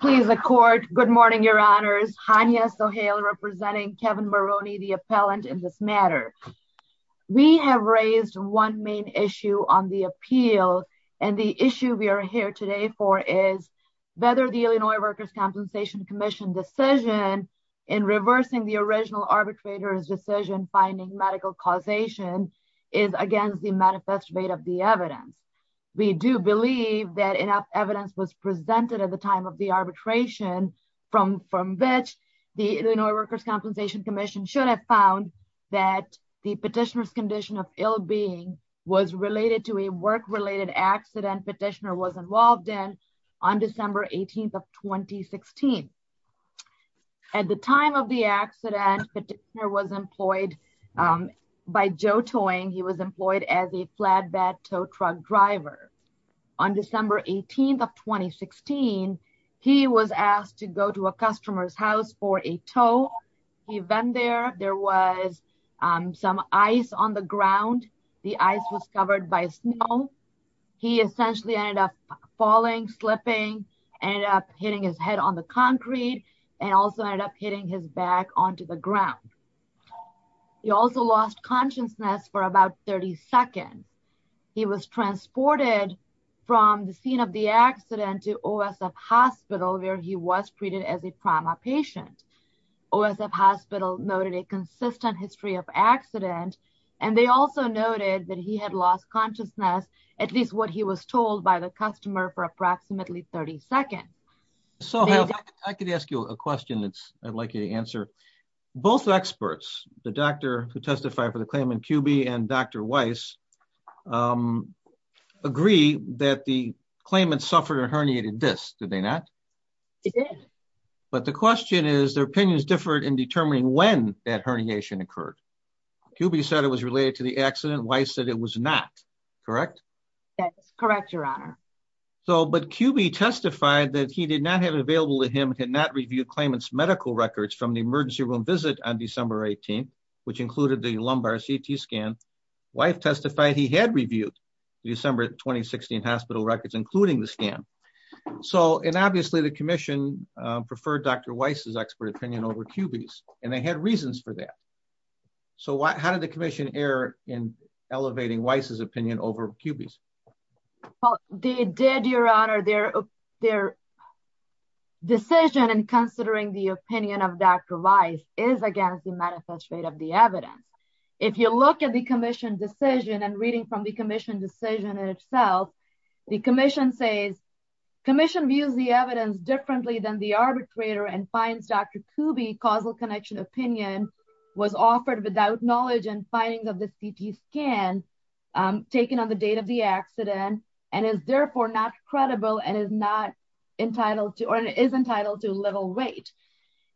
Please accord. Good morning, Your Honors. Hania Sohail representing Kevin Maroney, the appellant in this matter. We have raised one main issue on the appeal. And the issue we are here today for is whether the Illinois Workers' Compensation Commission decision in reversing the original arbitrator's decision finding medical causation is against the manifest rate of the arbitration from which the Illinois Workers' Compensation Commission should have found that the petitioner's condition of ill-being was related to a work-related accident petitioner was involved in on December 18th of 2016. At the time of the accident, petitioner was employed by Joe Towing. He was employed as a flatbed tow truck driver. On December 18th of 2016, he was asked to go to a customer's house for a tow. He went there. There was some ice on the ground. The ice was covered by snow. He essentially ended up falling, slipping, ended up hitting his head on the concrete, and also ended up hitting his back onto the ground. He also lost consciousness for about 30 seconds. He was transported from the scene of the accident to OSF Hospital, where he was treated as a trauma patient. OSF Hospital noted a consistent history of accident, and they also noted that he had lost consciousness, at least what he was told by the customer, for approximately 30 seconds. So I could ask you a question that I'd like you to answer. Both experts, the doctor who testified for the claim in Cubie and Dr. Weiss, agree that the claimant suffered a herniated disc, did they not? They did. But the question is, their opinions differed in determining when that herniation occurred. Cubie said it was related to the accident. Weiss said it was not, correct? That's correct, Your Honor. But Cubie testified that he did not have it available to him, had not reviewed claimant's medical records from the emergency room visit on December 18th, which included the lumbar CT scan. Weiss testified he had reviewed December 2016 hospital records, including the scan. So, and obviously the commission preferred Dr. Weiss' expert opinion over Cubie's, and they had reasons for that. So how did the commission err in elevating Weiss' opinion over Cubie's? They did, Your Honor. Their decision in considering the opinion of Dr. Weiss is against the manifest rate of the evidence. If you look at the commission decision and reading from the commission decision itself, the commission says, commission views the evidence differently than the arbitrator and finds Dr. Cubie causal connection opinion was offered without knowledge and findings of the CT scan taken on the date of the accident, and is therefore not credible and is not entitled to, or is entitled to little weight.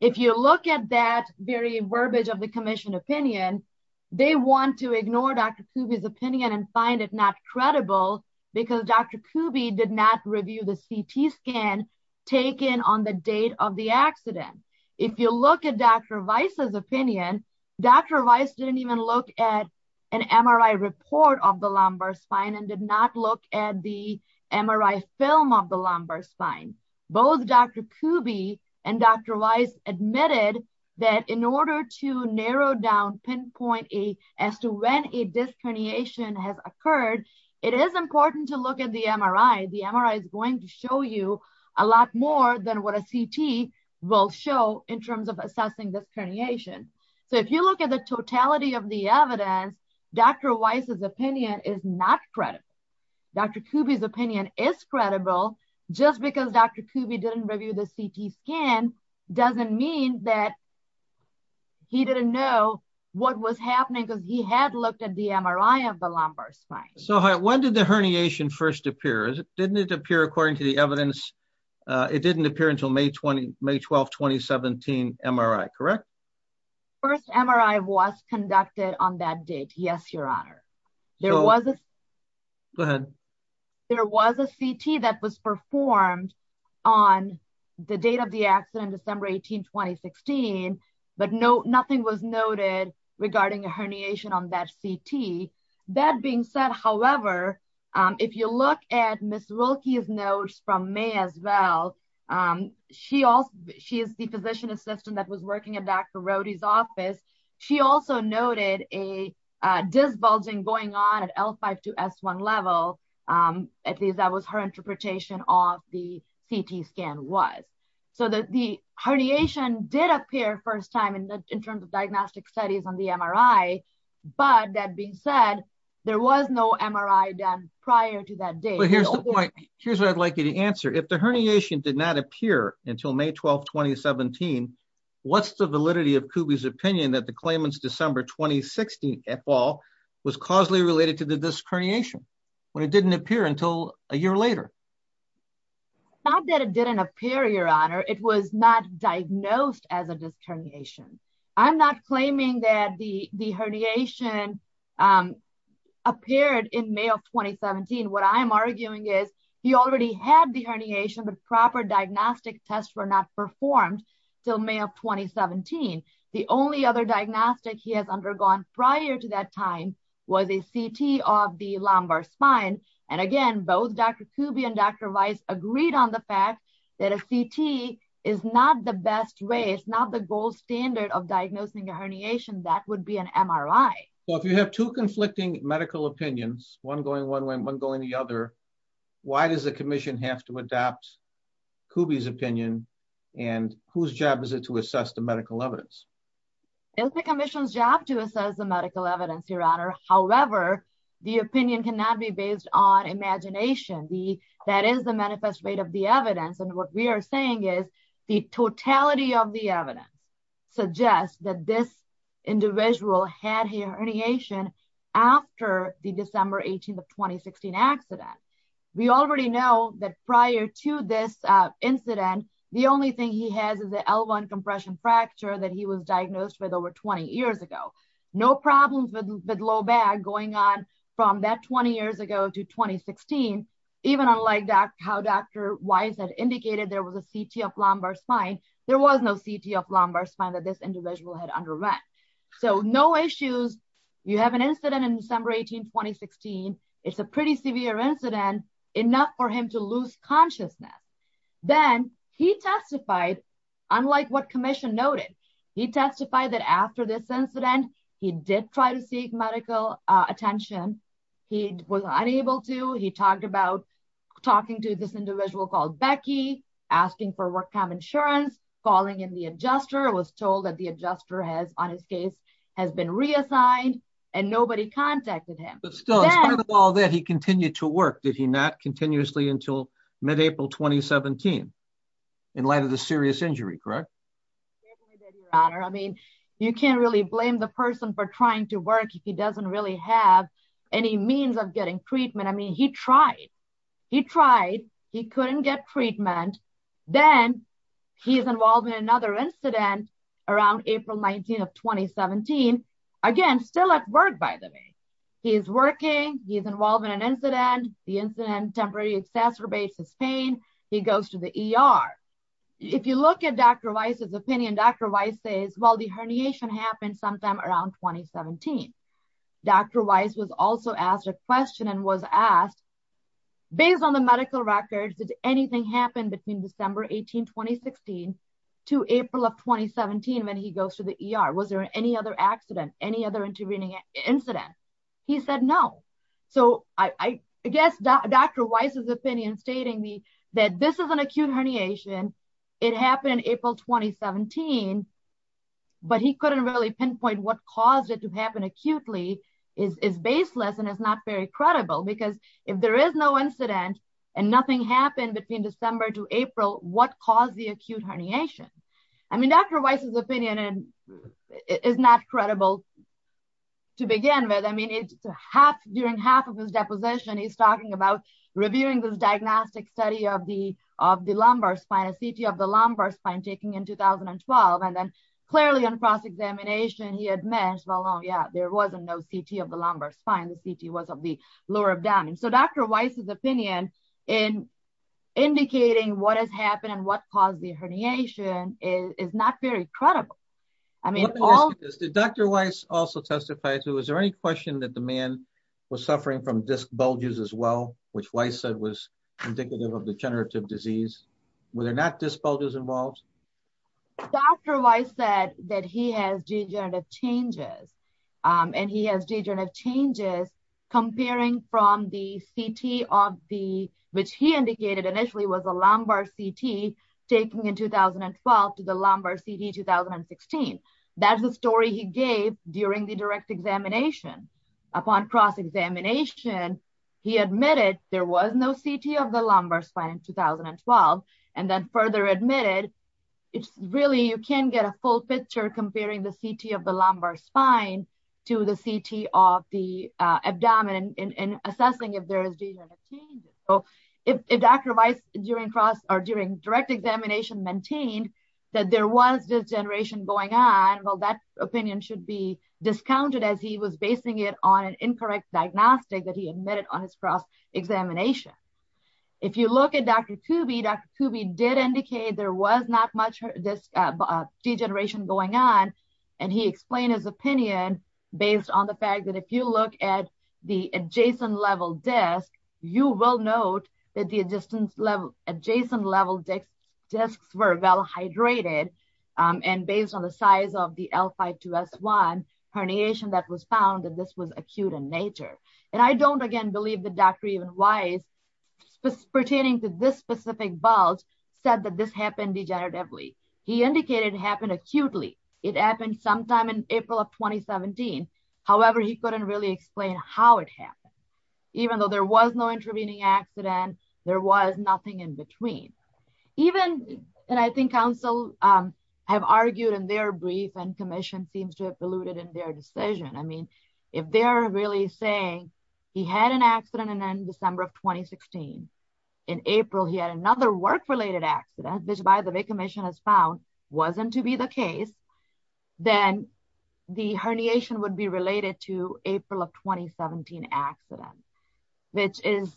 If you look at that very verbiage of the commission opinion, they want to ignore Dr. Cubie's opinion and find it not credible because Dr. Cubie did not review the CT scan taken on the date of the accident. If you look at Dr. Weiss' opinion, Dr. Weiss didn't even look at an MRI report of the lumbar spine and did not look at the MRI film of the lumbar spine. Both Dr. Cubie and Dr. Weiss admitted that in order to narrow down, pinpoint as to when a disc herniation has occurred, it is important to look at the MRI. The MRI is going to show you a lot more than what a CT will show in terms of assessing this herniation. So if you look at the totality of the evidence, Dr. Weiss' opinion is not credible. Dr. Cubie's opinion is credible. Just because Dr. Cubie didn't review the CT scan doesn't mean that he didn't know what was happening because he had looked at the MRI of the lumbar spine. So when did the herniation first appear? Didn't it appear according to the evidence? It didn't appear until May 12, 2017 MRI, correct? First MRI was conducted on that date. Yes, Your Honor. There was a CT that was performed on the date of the accident, December 18, 2016, but nothing was noted regarding a herniation on that CT. That being said, however, if you look at Ms. Wilkie's notes from May as well, she is the physician assistant that was working at Dr. Rohde's office. She also noted a disbulging going on at L5-S1 level. At least that was her interpretation of the CT scan was. So the herniation did appear first time in terms of diagnostic studies on the MRI, but that being said, there was no MRI done prior to that date. But here's the point. Here's until May 12, 2017. What's the validity of Kubi's opinion that the claimants December 2016 et al was causally related to the disc herniation when it didn't appear until a year later? Not that it didn't appear, Your Honor. It was not diagnosed as a disc herniation. I'm not claiming that the herniation appeared in May of 2017. What I'm arguing is he already had the herniation, but proper diagnostic tests were not performed until May of 2017. The only other diagnostic he has undergone prior to that time was a CT of the lumbar spine. And again, both Dr. Kubi and Dr. Weiss agreed on the fact that a CT is not the best way. It's not the gold standard of diagnosing a herniation that would be an MRI. So if you have two conflicting medical opinions, one going one way and one going the other, why does the commission have to adopt Kubi's opinion? And whose job is it to assess the medical evidence? It's the commission's job to assess the medical evidence, Your Honor. However, the opinion cannot be based on imagination. That is the manifest rate of the evidence. And what we are saying is the totality of the evidence suggests that this individual had herniation after the December 18th of 2016 accident. We already know that prior to this incident, the only thing he has is the L1 compression fracture that he was diagnosed with over 20 years ago. No problems with low back going on from that 20 years ago to 2016. Even unlike how Dr. Weiss had indicated there was a CT of lumbar spine, there was no CT of lumbar spine that this incident in December 18th, 2016, it's a pretty severe incident enough for him to lose consciousness. Then he testified, unlike what commission noted, he testified that after this incident, he did try to seek medical attention. He was unable to. He talked about talking to this individual called Becky, asking for work time insurance, calling in the adjuster, was told that adjuster has, on his case, has been reassigned, and nobody contacted him. But still, in spite of all that, he continued to work, did he not, continuously until mid-April 2017, in light of the serious injury, correct? I mean, you can't really blame the person for trying to work if he doesn't really have any means of getting treatment. I mean, he tried. He tried. He was involved in another incident around April 19th of 2017. Again, still at work, by the way. He is working. He is involved in an incident. The incident temporarily exacerbates his pain. He goes to the ER. If you look at Dr. Weiss's opinion, Dr. Weiss says, well, the herniation happened sometime around 2017. Dr. Weiss was also asked a question and was asked, based on the medical records, did anything happen between December 18, 2016, to April of 2017, when he goes to the ER? Was there any other accident, any other intervening incident? He said no. So, I guess Dr. Weiss's opinion stating that this is an acute herniation, it happened in April 2017, but he couldn't really pinpoint what caused it to happen acutely is baseless and is not very credible. If there is no incident and nothing happened between December to April, what caused the acute herniation? I mean, Dr. Weiss's opinion is not credible to begin with. I mean, during half of his deposition, he's talking about reviewing this diagnostic study of the lumbar spine, a CT of the lumbar spine taken in 2012, and then clearly on cross-examination, he admits, yeah, there wasn't no CT of the lumbar spine. The CT was of the lower abdomen. So, Dr. Weiss's opinion in indicating what has happened and what caused the herniation is not very credible. Did Dr. Weiss also testify to, was there any question that the man was suffering from disc bulges as well, which Weiss said was indicative of degenerative disease? Were there not disc changes? And he has degenerative changes comparing from the CT of the, which he indicated initially was a lumbar CT taking in 2012 to the lumbar CT 2016. That's the story he gave during the direct examination. Upon cross-examination, he admitted there was no CT of the lumbar spine in 2012, and then further admitted, it's really, you can't get a full picture comparing the CT of the lumbar spine to the CT of the abdomen in assessing if there is degenerative changes. So, if Dr. Weiss during cross or during direct examination maintained that there was degeneration going on, well, that opinion should be discounted as he was basing it on an incorrect diagnostic that he looked at. Dr. Kube, Dr. Kube did indicate there was not much disc degeneration going on, and he explained his opinion based on the fact that if you look at the adjacent level disc, you will note that the adjacent level discs were well hydrated and based on the size of the L5-2S1 herniation that was found that this was acute in nature. And I don't, again, believe that Dr. Weiss pertaining to this specific bulge said that this happened degeneratively. He indicated it happened acutely. It happened sometime in April of 2017. However, he couldn't really explain how it happened. Even though there was no intervening accident, there was nothing in between. Even, and I think counsel have argued in their brief and commission seems to have alluded in their decision. I mean, if they're really saying he had an accident and then December of 2016, in April, he had another work-related accident, which by the way commission has found wasn't to be the case, then the herniation would be related to April of 2017 accident, which is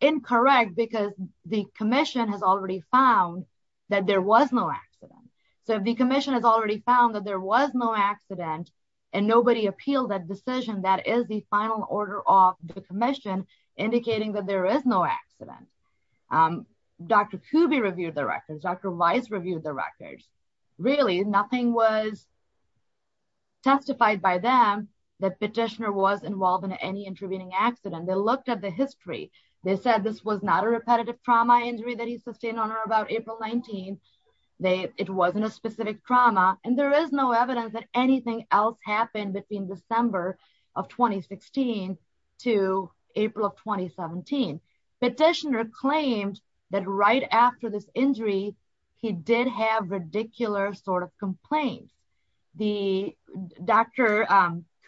incorrect because the commission has already found that there was no accident. So if the accident and nobody appealed that decision, that is the final order of the commission indicating that there is no accident. Dr. Kuby reviewed the records. Dr. Weiss reviewed the records. Really nothing was testified by them that petitioner was involved in any intervening accident. They looked at the history. They said this was not a repetitive trauma injury that he else happened between December of 2016 to April of 2017. Petitioner claimed that right after this injury, he did have ridiculous sort of complaints. The Dr.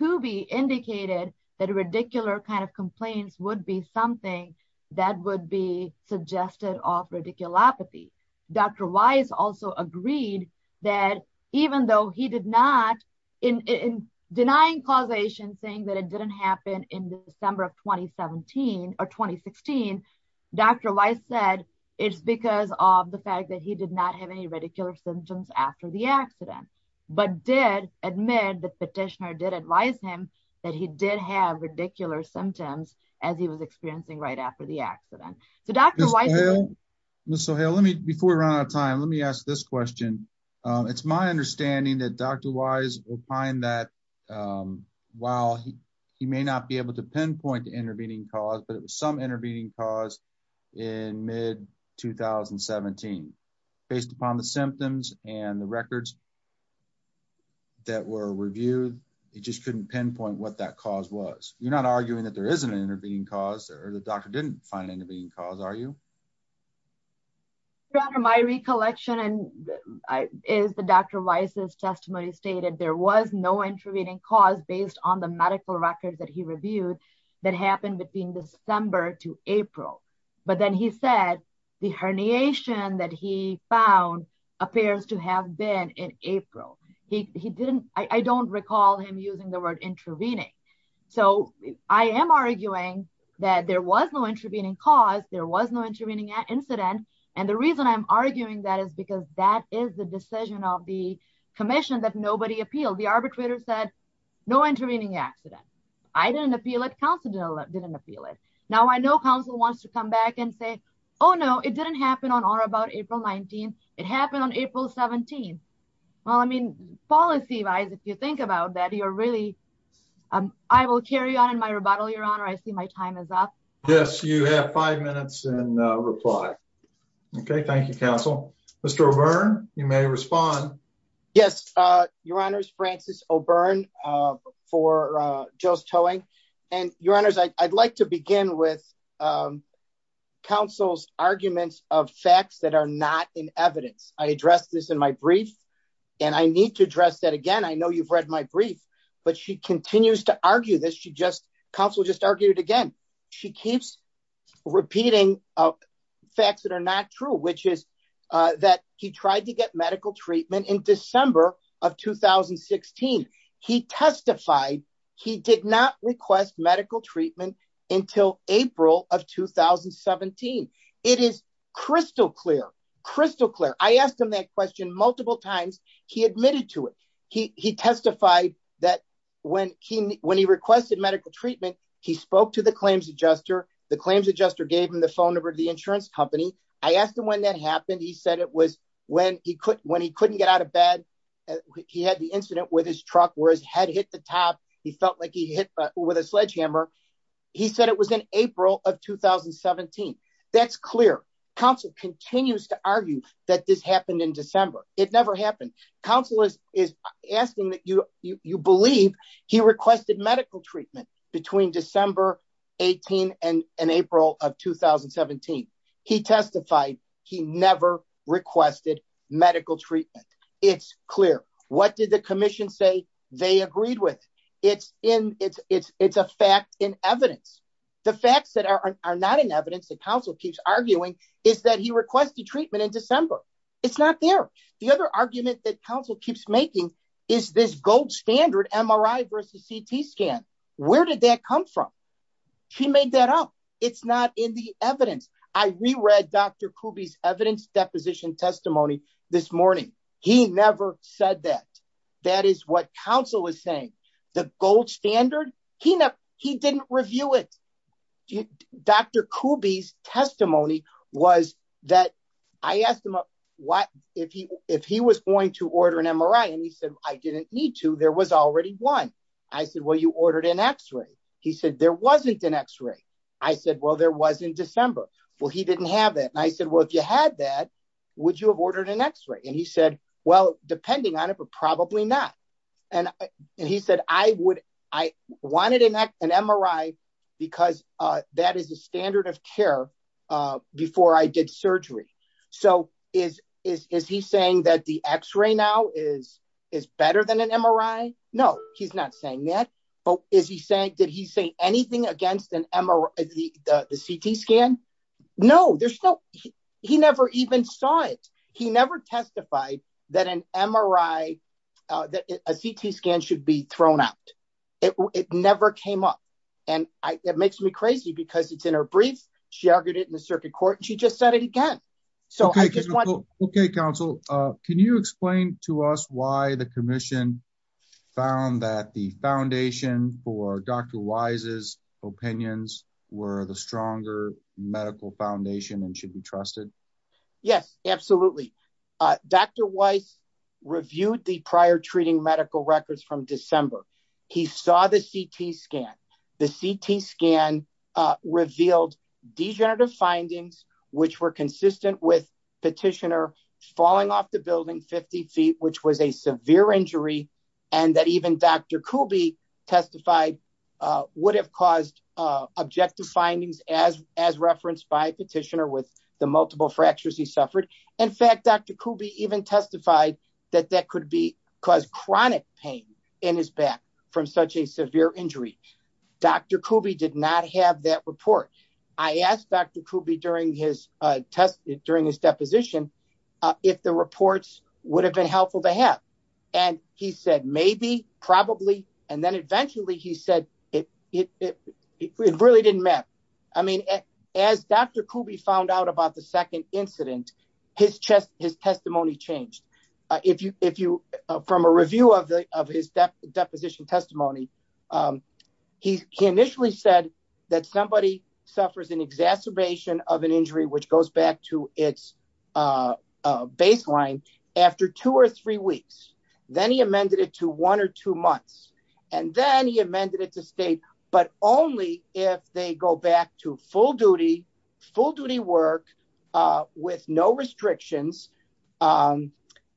Kuby indicated that ridiculous kind of complaints would be something that would be suggested of radiculopathy. Dr. Weiss also agreed that even though he did not, in denying causation, saying that it didn't happen in December of 2017 or 2016, Dr. Weiss said it's because of the fact that he did not have any radicular symptoms after the accident, but did admit that petitioner did advise him that he did have radicular symptoms as he was experiencing right after the accident. So Dr. Weiss. Mr. O'Hale, before we run out of time, let me ask this question. It's my understanding that Dr. Weiss will find that while he may not be able to pinpoint the intervening cause, but it was some intervening cause in mid-2017. Based upon the symptoms and the records that were reviewed, he just couldn't pinpoint what that cause was. You're not arguing that there is an intervening cause or the doctor didn't find an intervening cause, are you? Your Honor, my recollection is that Dr. Weiss' testimony stated there was no intervening cause based on the medical records that he reviewed that happened between December to April. But then he said the herniation that he found appears to have been in April. I don't recall him using the word that there was no intervening cause. There was no intervening incident. And the reason I'm arguing that is because that is the decision of the commission that nobody appealed. The arbitrator said no intervening accident. I didn't appeal it. Counsel didn't appeal it. Now I know counsel wants to come back and say, oh no, it didn't happen on or about April 19th. It happened on April 17th. Well, I mean, policy wise, if you think about that, you're really, I will carry on in my rebuttal, Your Honor. I see my time is up. Yes, you have five minutes and reply. Okay. Thank you, Counsel. Mr. O'Byrne, you may respond. Yes, Your Honor's Francis O'Byrne for Joe's Towing. And Your Honor's, I'd like to begin with counsel's arguments of facts that are not in evidence. I addressed this in my brief and I need to address that again. I know you've read my brief, but she argued again. She keeps repeating facts that are not true, which is that he tried to get medical treatment in December of 2016. He testified he did not request medical treatment until April of 2017. It is crystal clear, crystal clear. I asked him that question multiple times. He admitted to it. He testified that when he requested medical treatment, he spoke to the claims adjuster. The claims adjuster gave him the phone number of the insurance company. I asked him when that happened. He said it was when he couldn't get out of bed. He had the incident with his truck where his head hit the top. He felt like he hit with a sledgehammer. He said it was in April of 2017. That's clear. Counsel continues to argue that this happened in December. It never happened. Counsel is asking that you believe he requested medical treatment between December 18 and April of 2017. He testified he never requested medical treatment. It's clear. What did the commission say they agreed with? It's a fact in evidence. The facts that are not in evidence that counsel keeps arguing is that he requested treatment in December. It's not there. The other argument that counsel keeps making is this gold standard MRI versus CT scan. Where did that come from? He made that up. It's not in the evidence. I reread Dr. Kubey's evidence deposition testimony this morning. He never said that. That is what counsel is saying. The gold standard, he didn't review it. Dr. Kubey's testimony was that I asked him what if he was going to order an MRI. He said I didn't need to. There was already one. I said, well, you ordered an x-ray. He said there wasn't an x-ray. I said, well, there was in December. He didn't have it. I said, well, if you had that, would you have ordered an x-ray? He said, well, depending on it, but probably not. He said I wanted an MRI because that is a standard of care before I did surgery. Is he saying that the x-ray now is better than an MRI? No, he's not saying that. Did he say anything against the CT scan? No. He never even saw it. He never testified that an MRI, a CT scan should be thrown out. It never came up. It makes me crazy because it's brief. She argued it in the circuit court. She just said it again. Okay, counsel. Can you explain to us why the commission found that the foundation for Dr. Weiss's opinions were the stronger medical foundation and should be trusted? Yes, absolutely. Dr. Weiss reviewed the prior treating medical records from December. He saw the CT scan. The CT scan revealed degenerative findings, which were consistent with petitioner falling off the building 50 feet, which was a severe injury, and that even Dr. Kubi testified would have caused objective findings as referenced by petitioner with the multiple fractures he suffered. In fact, Dr. Kubi even testified that that could cause chronic pain in his back from such a severe injury. Dr. Kubi did not have that report. I asked Dr. Kubi during his deposition if the reports would have been helpful to have. He said maybe, probably, and then eventually he said it really didn't matter. As Dr. Kubi found out about the second deposition testimony, he initially said that somebody suffers an exacerbation of an injury, which goes back to its baseline after two or three weeks. Then he amended it to one or two months, and then he amended it to state, but only if they go back to full duty, full duty work with no restrictions. Then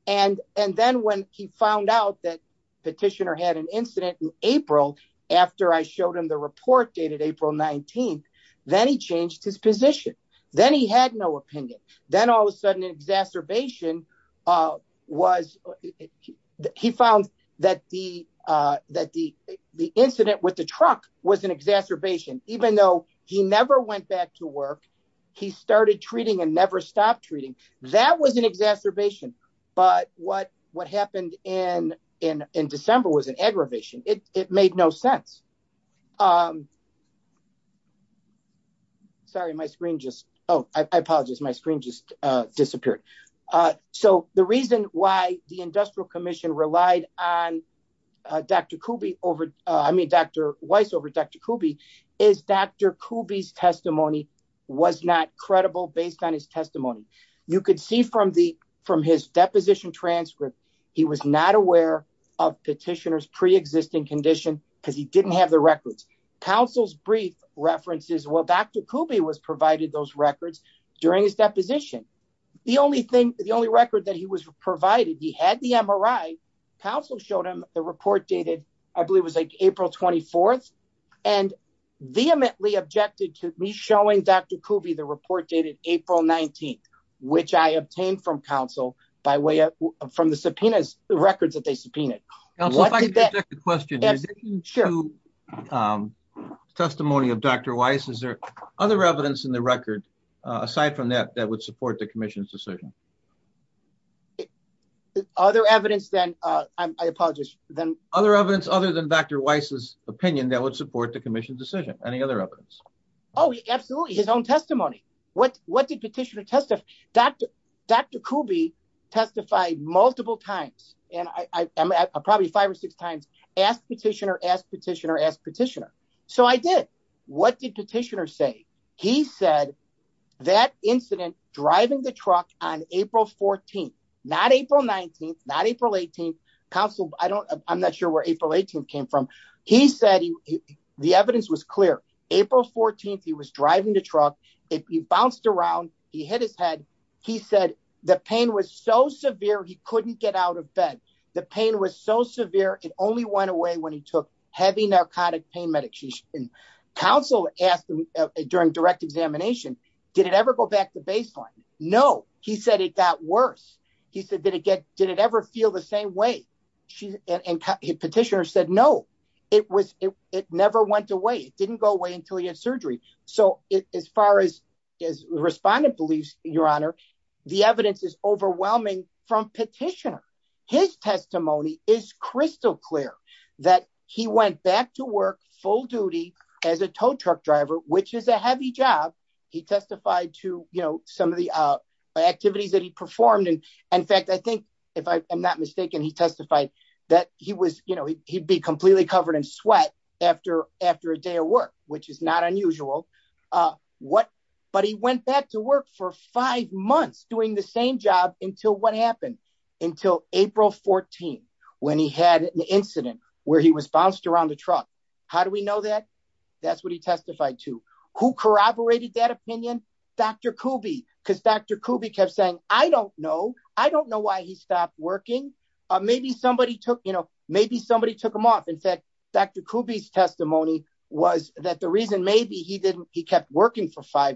when he found out that petitioner had an incident in April, after I showed him the report dated April 19th, then he changed his position. Then he had no opinion. Then all of a sudden exacerbation was, he found that the incident with the truck was an and never stopped treating. That was an exacerbation, but what happened in December was an aggravation. It made no sense. Sorry, my screen just, oh, I apologize. My screen just disappeared. The reason why the industrial commission relied on Dr. Weiss over Dr. Kubi is Dr. Kubi's testimony was not credible based on his testimony. You could see from his deposition transcript, he was not aware of petitioner's preexisting condition because he didn't have the records. Counsel's brief references, well, Dr. Kubi was provided those records during his deposition. The only thing, the only record that he was provided, he had the MRI. Counsel showed him the report dated, I believe it was like April 24th, and vehemently objected to me showing Dr. Kubi the report dated April 19th, which I obtained from counsel by way of, from the subpoenas, the records that they subpoenaed. Counsel, if I could interject a question. Testimony of Dr. Weiss, is there other evidence in the record, aside from that, that would support the commission's decision? Other evidence than, I apologize. Other evidence other than Dr. Weiss's opinion that would support the commission's decision. Any other evidence? Oh, absolutely. His own testimony. What did petitioner testify? Dr. Kubi testified multiple times, and probably five or six times, asked petitioner, asked petitioner, asked petitioner. So I did. What did petitioner say? He said that incident driving the truck on April 14th, not April 19th, not April 18th. Counsel, I don't, I'm not sure where April 18th came from. He said he, the evidence was clear. April 14th, he was driving the truck. If he bounced around, he hit his head. He said the pain was so severe, he couldn't get out of bed. The pain was so severe. It only went away when he took heavy examination. Did it ever go back to baseline? No. He said it got worse. He said, did it get, did it ever feel the same way? And petitioner said, no, it was, it never went away. It didn't go away until he had surgery. So as far as, as respondent believes, your honor, the evidence is overwhelming from petitioner. His testimony is crystal clear that he went back to work full duty as a tow truck driver, which is a heavy job. He testified to, you know, some of the activities that he performed. And in fact, I think if I am not mistaken, he testified that he was, you know, he'd be completely covered in sweat after, after a day of work, which is not unusual. What, but he went back to work for five months doing the same job until what happened until April 14, when he had an incident where he was bounced around the truck. How do we know that? That's what he testified to who corroborated that opinion, Dr. Kube because Dr. Kube kept saying, I don't know. I don't know why he stopped working. Maybe somebody took, you know, maybe somebody took him off. In fact, Dr. Kube's testimony was that the reason maybe he didn't, he kept working for I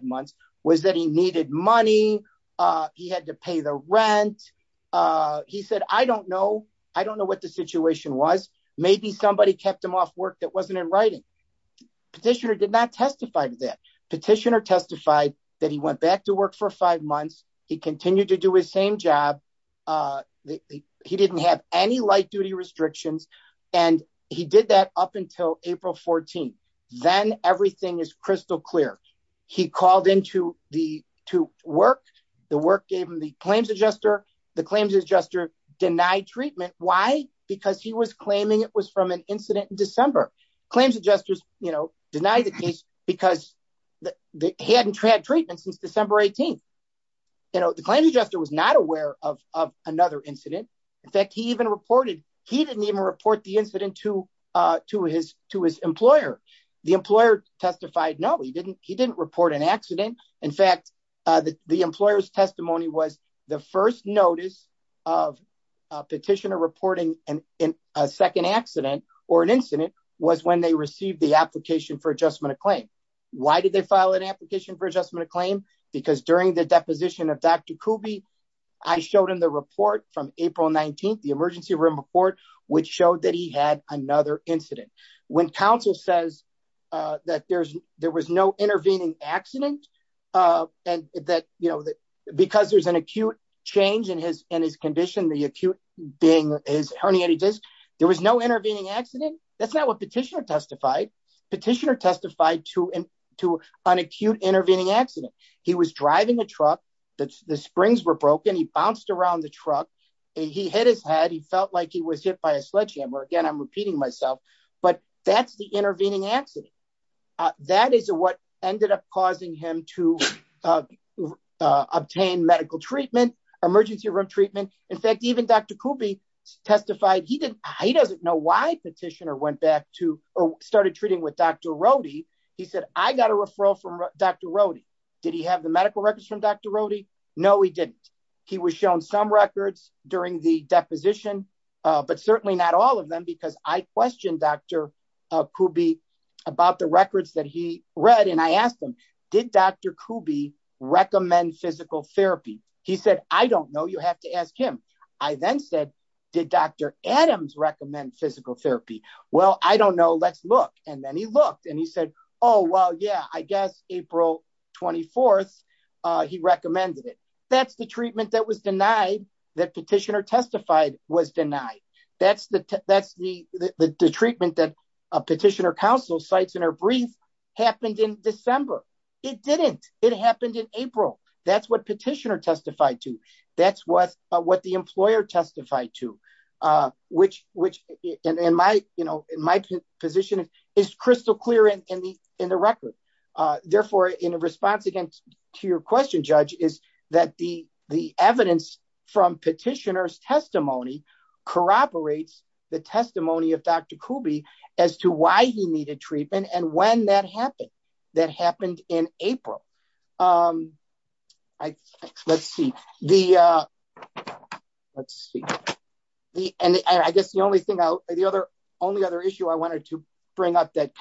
don't know what the situation was. Maybe somebody kept him off work that wasn't in writing. Petitioner did not testify to that. Petitioner testified that he went back to work for five months. He continued to do his same job. He didn't have any light duty restrictions. And he did that up until April 14. Then everything is crystal clear. He called into the, to work, the work gave him the claims adjuster, the claims adjuster denied treatment. Why? Because he was claiming it was from an incident in December. Claims adjusters, you know, denied the case because they hadn't had treatment since December 18th. You know, the claims adjuster was not aware of another incident. In fact, he even reported, he didn't even report the incident to his employer. The employer testified, no, he didn't. He didn't report an accident. In fact, the employer's testimony was the first notice of a petitioner reporting in a second accident or an incident was when they received the application for adjustment of claim. Why did they file an application for adjustment of claim? Because during the deposition of Dr. Kube, I showed him the report from April 19th, the emergency room report, which showed that he had another incident. When counsel says that there was no intervening accident and that, you know, because there's an acute change in his condition, the acute being his herniated disc, there was no intervening accident. That's not what petitioner testified. Petitioner testified to an acute intervening accident. He was driving a truck. The springs were broken. He bounced around the truck and he hit his head. He felt like he was hit by a sledgehammer. Again, I'm repeating myself, but that's the intervening accident. That is what ended up causing him to obtain medical treatment, emergency room treatment. In fact, even Dr. Kube testified, he didn't, he doesn't know why petitioner went back to or started treating with Dr. Rohde. He said, I got a referral from Dr. Rohde. Did he have the medical records from Dr. Rohde? No, he didn't. He was shown some records during the deposition, but certainly not all of them because I questioned Dr. Kube about the records that he read. And I asked him, did Dr. Kube recommend physical therapy? He said, I don't know. You have to ask him. I then said, did Dr. Adams recommend physical therapy? Well, I don't know. Let's look. And then he looked and he said, oh, well, yeah, I guess April 24th, he recommended it. That's the treatment that was denied, that petitioner testified was denied. That's the treatment that a petitioner counsel cites in her brief happened in December. It didn't. It happened in April. That's what petitioner testified to. That's what the employer testified to, which in my position is crystal clear in the record. Therefore, in response to your question, Judge, is that the evidence from petitioner's testimony corroborates the testimony of Dr. Kube as to why he needed treatment and when that happened. That happened in April. Let's see. And I guess the only other issue I wanted to bring up that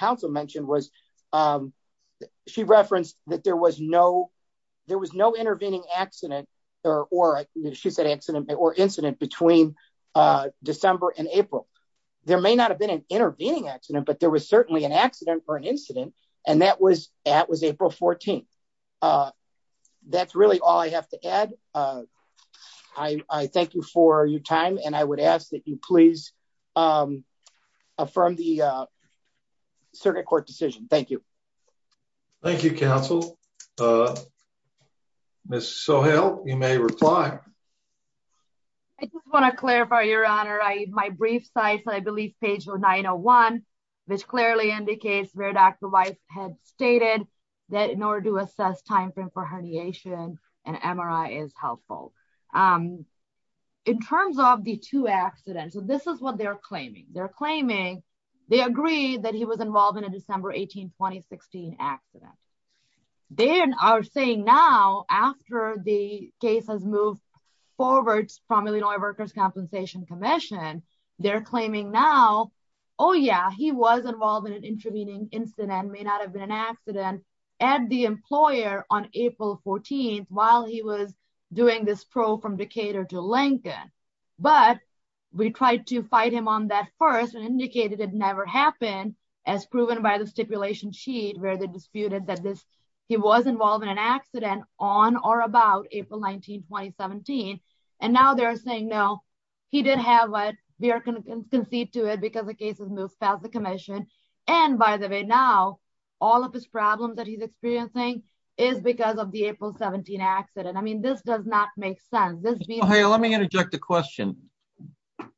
there was no intervening accident or incident between December and April. There may not have been an intervening accident, but there was certainly an accident or an incident. And that was April 14th. That's really all I have to add. I thank you for your time and I would ask that you please affirm the circuit court decision. Thank you. Thank you, counsel. Ms. Sohail, you may reply. I just want to clarify, your honor. My brief cites, I believe, page 901, which clearly indicates where Dr. Weiss had stated that in order to assess timeframe for herniation, an MRI is helpful. In terms of the two accidents, this is what they're claiming. They're claiming they agreed that he was involved in a December 18, 2016 accident. They are saying now after the case has moved forward from Illinois Workers' Compensation Commission, they're claiming now, oh yeah, he was involved in an intervening incident, may not have been an accident, at the employer on April 14th while he was doing this probe from Decatur to Lincoln. But we tried to fight him on that first and indicated it never happened as proven by the stipulation sheet where they disputed that he was involved in an accident on or about April 19, 2017. And now they're saying, no, he didn't have it. We are going to concede to it because the now all of his problems that he's experiencing is because of the April 17 accident. I mean, this does not make sense. Let me interject a question.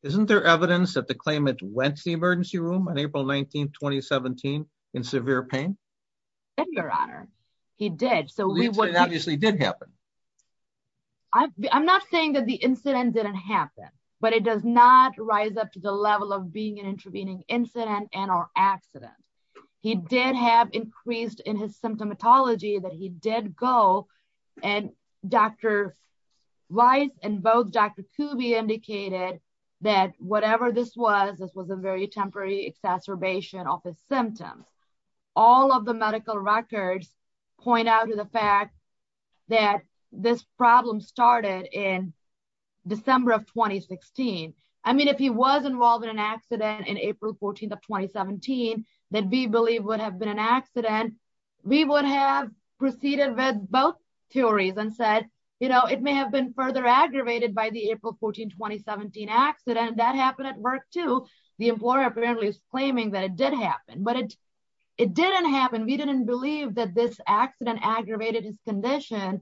Isn't there evidence that the claimant went to the emergency room on April 19, 2017 in severe pain? Yes, your honor. He did. So I'm not saying that the incident didn't happen, but it does not rise up to the level of being intervening incident and or accident. He did have increased in his symptomatology that he did go. And Dr. Rice and both Dr. Kube indicated that whatever this was, this was a very temporary exacerbation of his symptoms. All of the medical records point out to the fact that this problem started in December of 2016. I mean, if he was involved in an accident in April 14 of 2017, that we believe would have been an accident, we would have proceeded with both theories and said, you know, it may have been further aggravated by the April 14, 2017 accident that happened at work to the employer apparently claiming that it did happen, but it didn't happen. We didn't believe that this accident aggravated his condition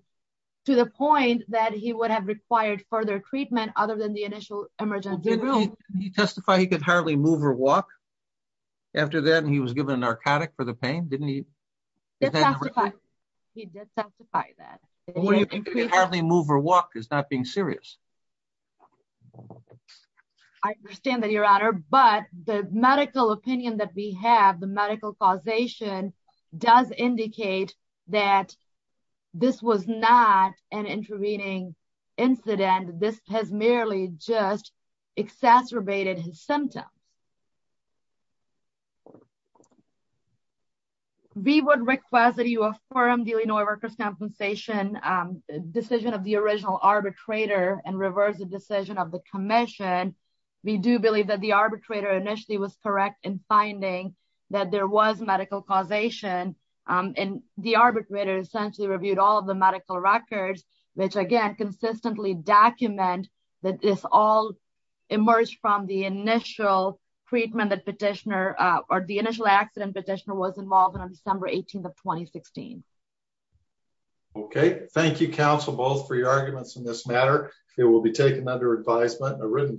to the point that he would have required further treatment other than the initial emergency room. Did he testify he could hardly move or walk after that? And he was given a narcotic for the pain, didn't he? He did testify that. Hardly move or walk is not being serious. I understand that your honor, but the medical opinion that we have, the medical causation does indicate that this was not an intervening incident. This has merely just exacerbated his symptoms. We would request that you affirm the Illinois workers' compensation decision of the original arbitrator and reverse the decision of the commission. We do believe that the arbitrator initially was correct in finding that there was medical causation and the arbitrator essentially reviewed all of the medical records, which again, consistently document that this all emerged from the initial treatment that petitioner or the initial accident petitioner was involved in on December 18th of 2016. Okay. Thank you counsel both for your arguments in this matter. It will be taken under advisement and a written.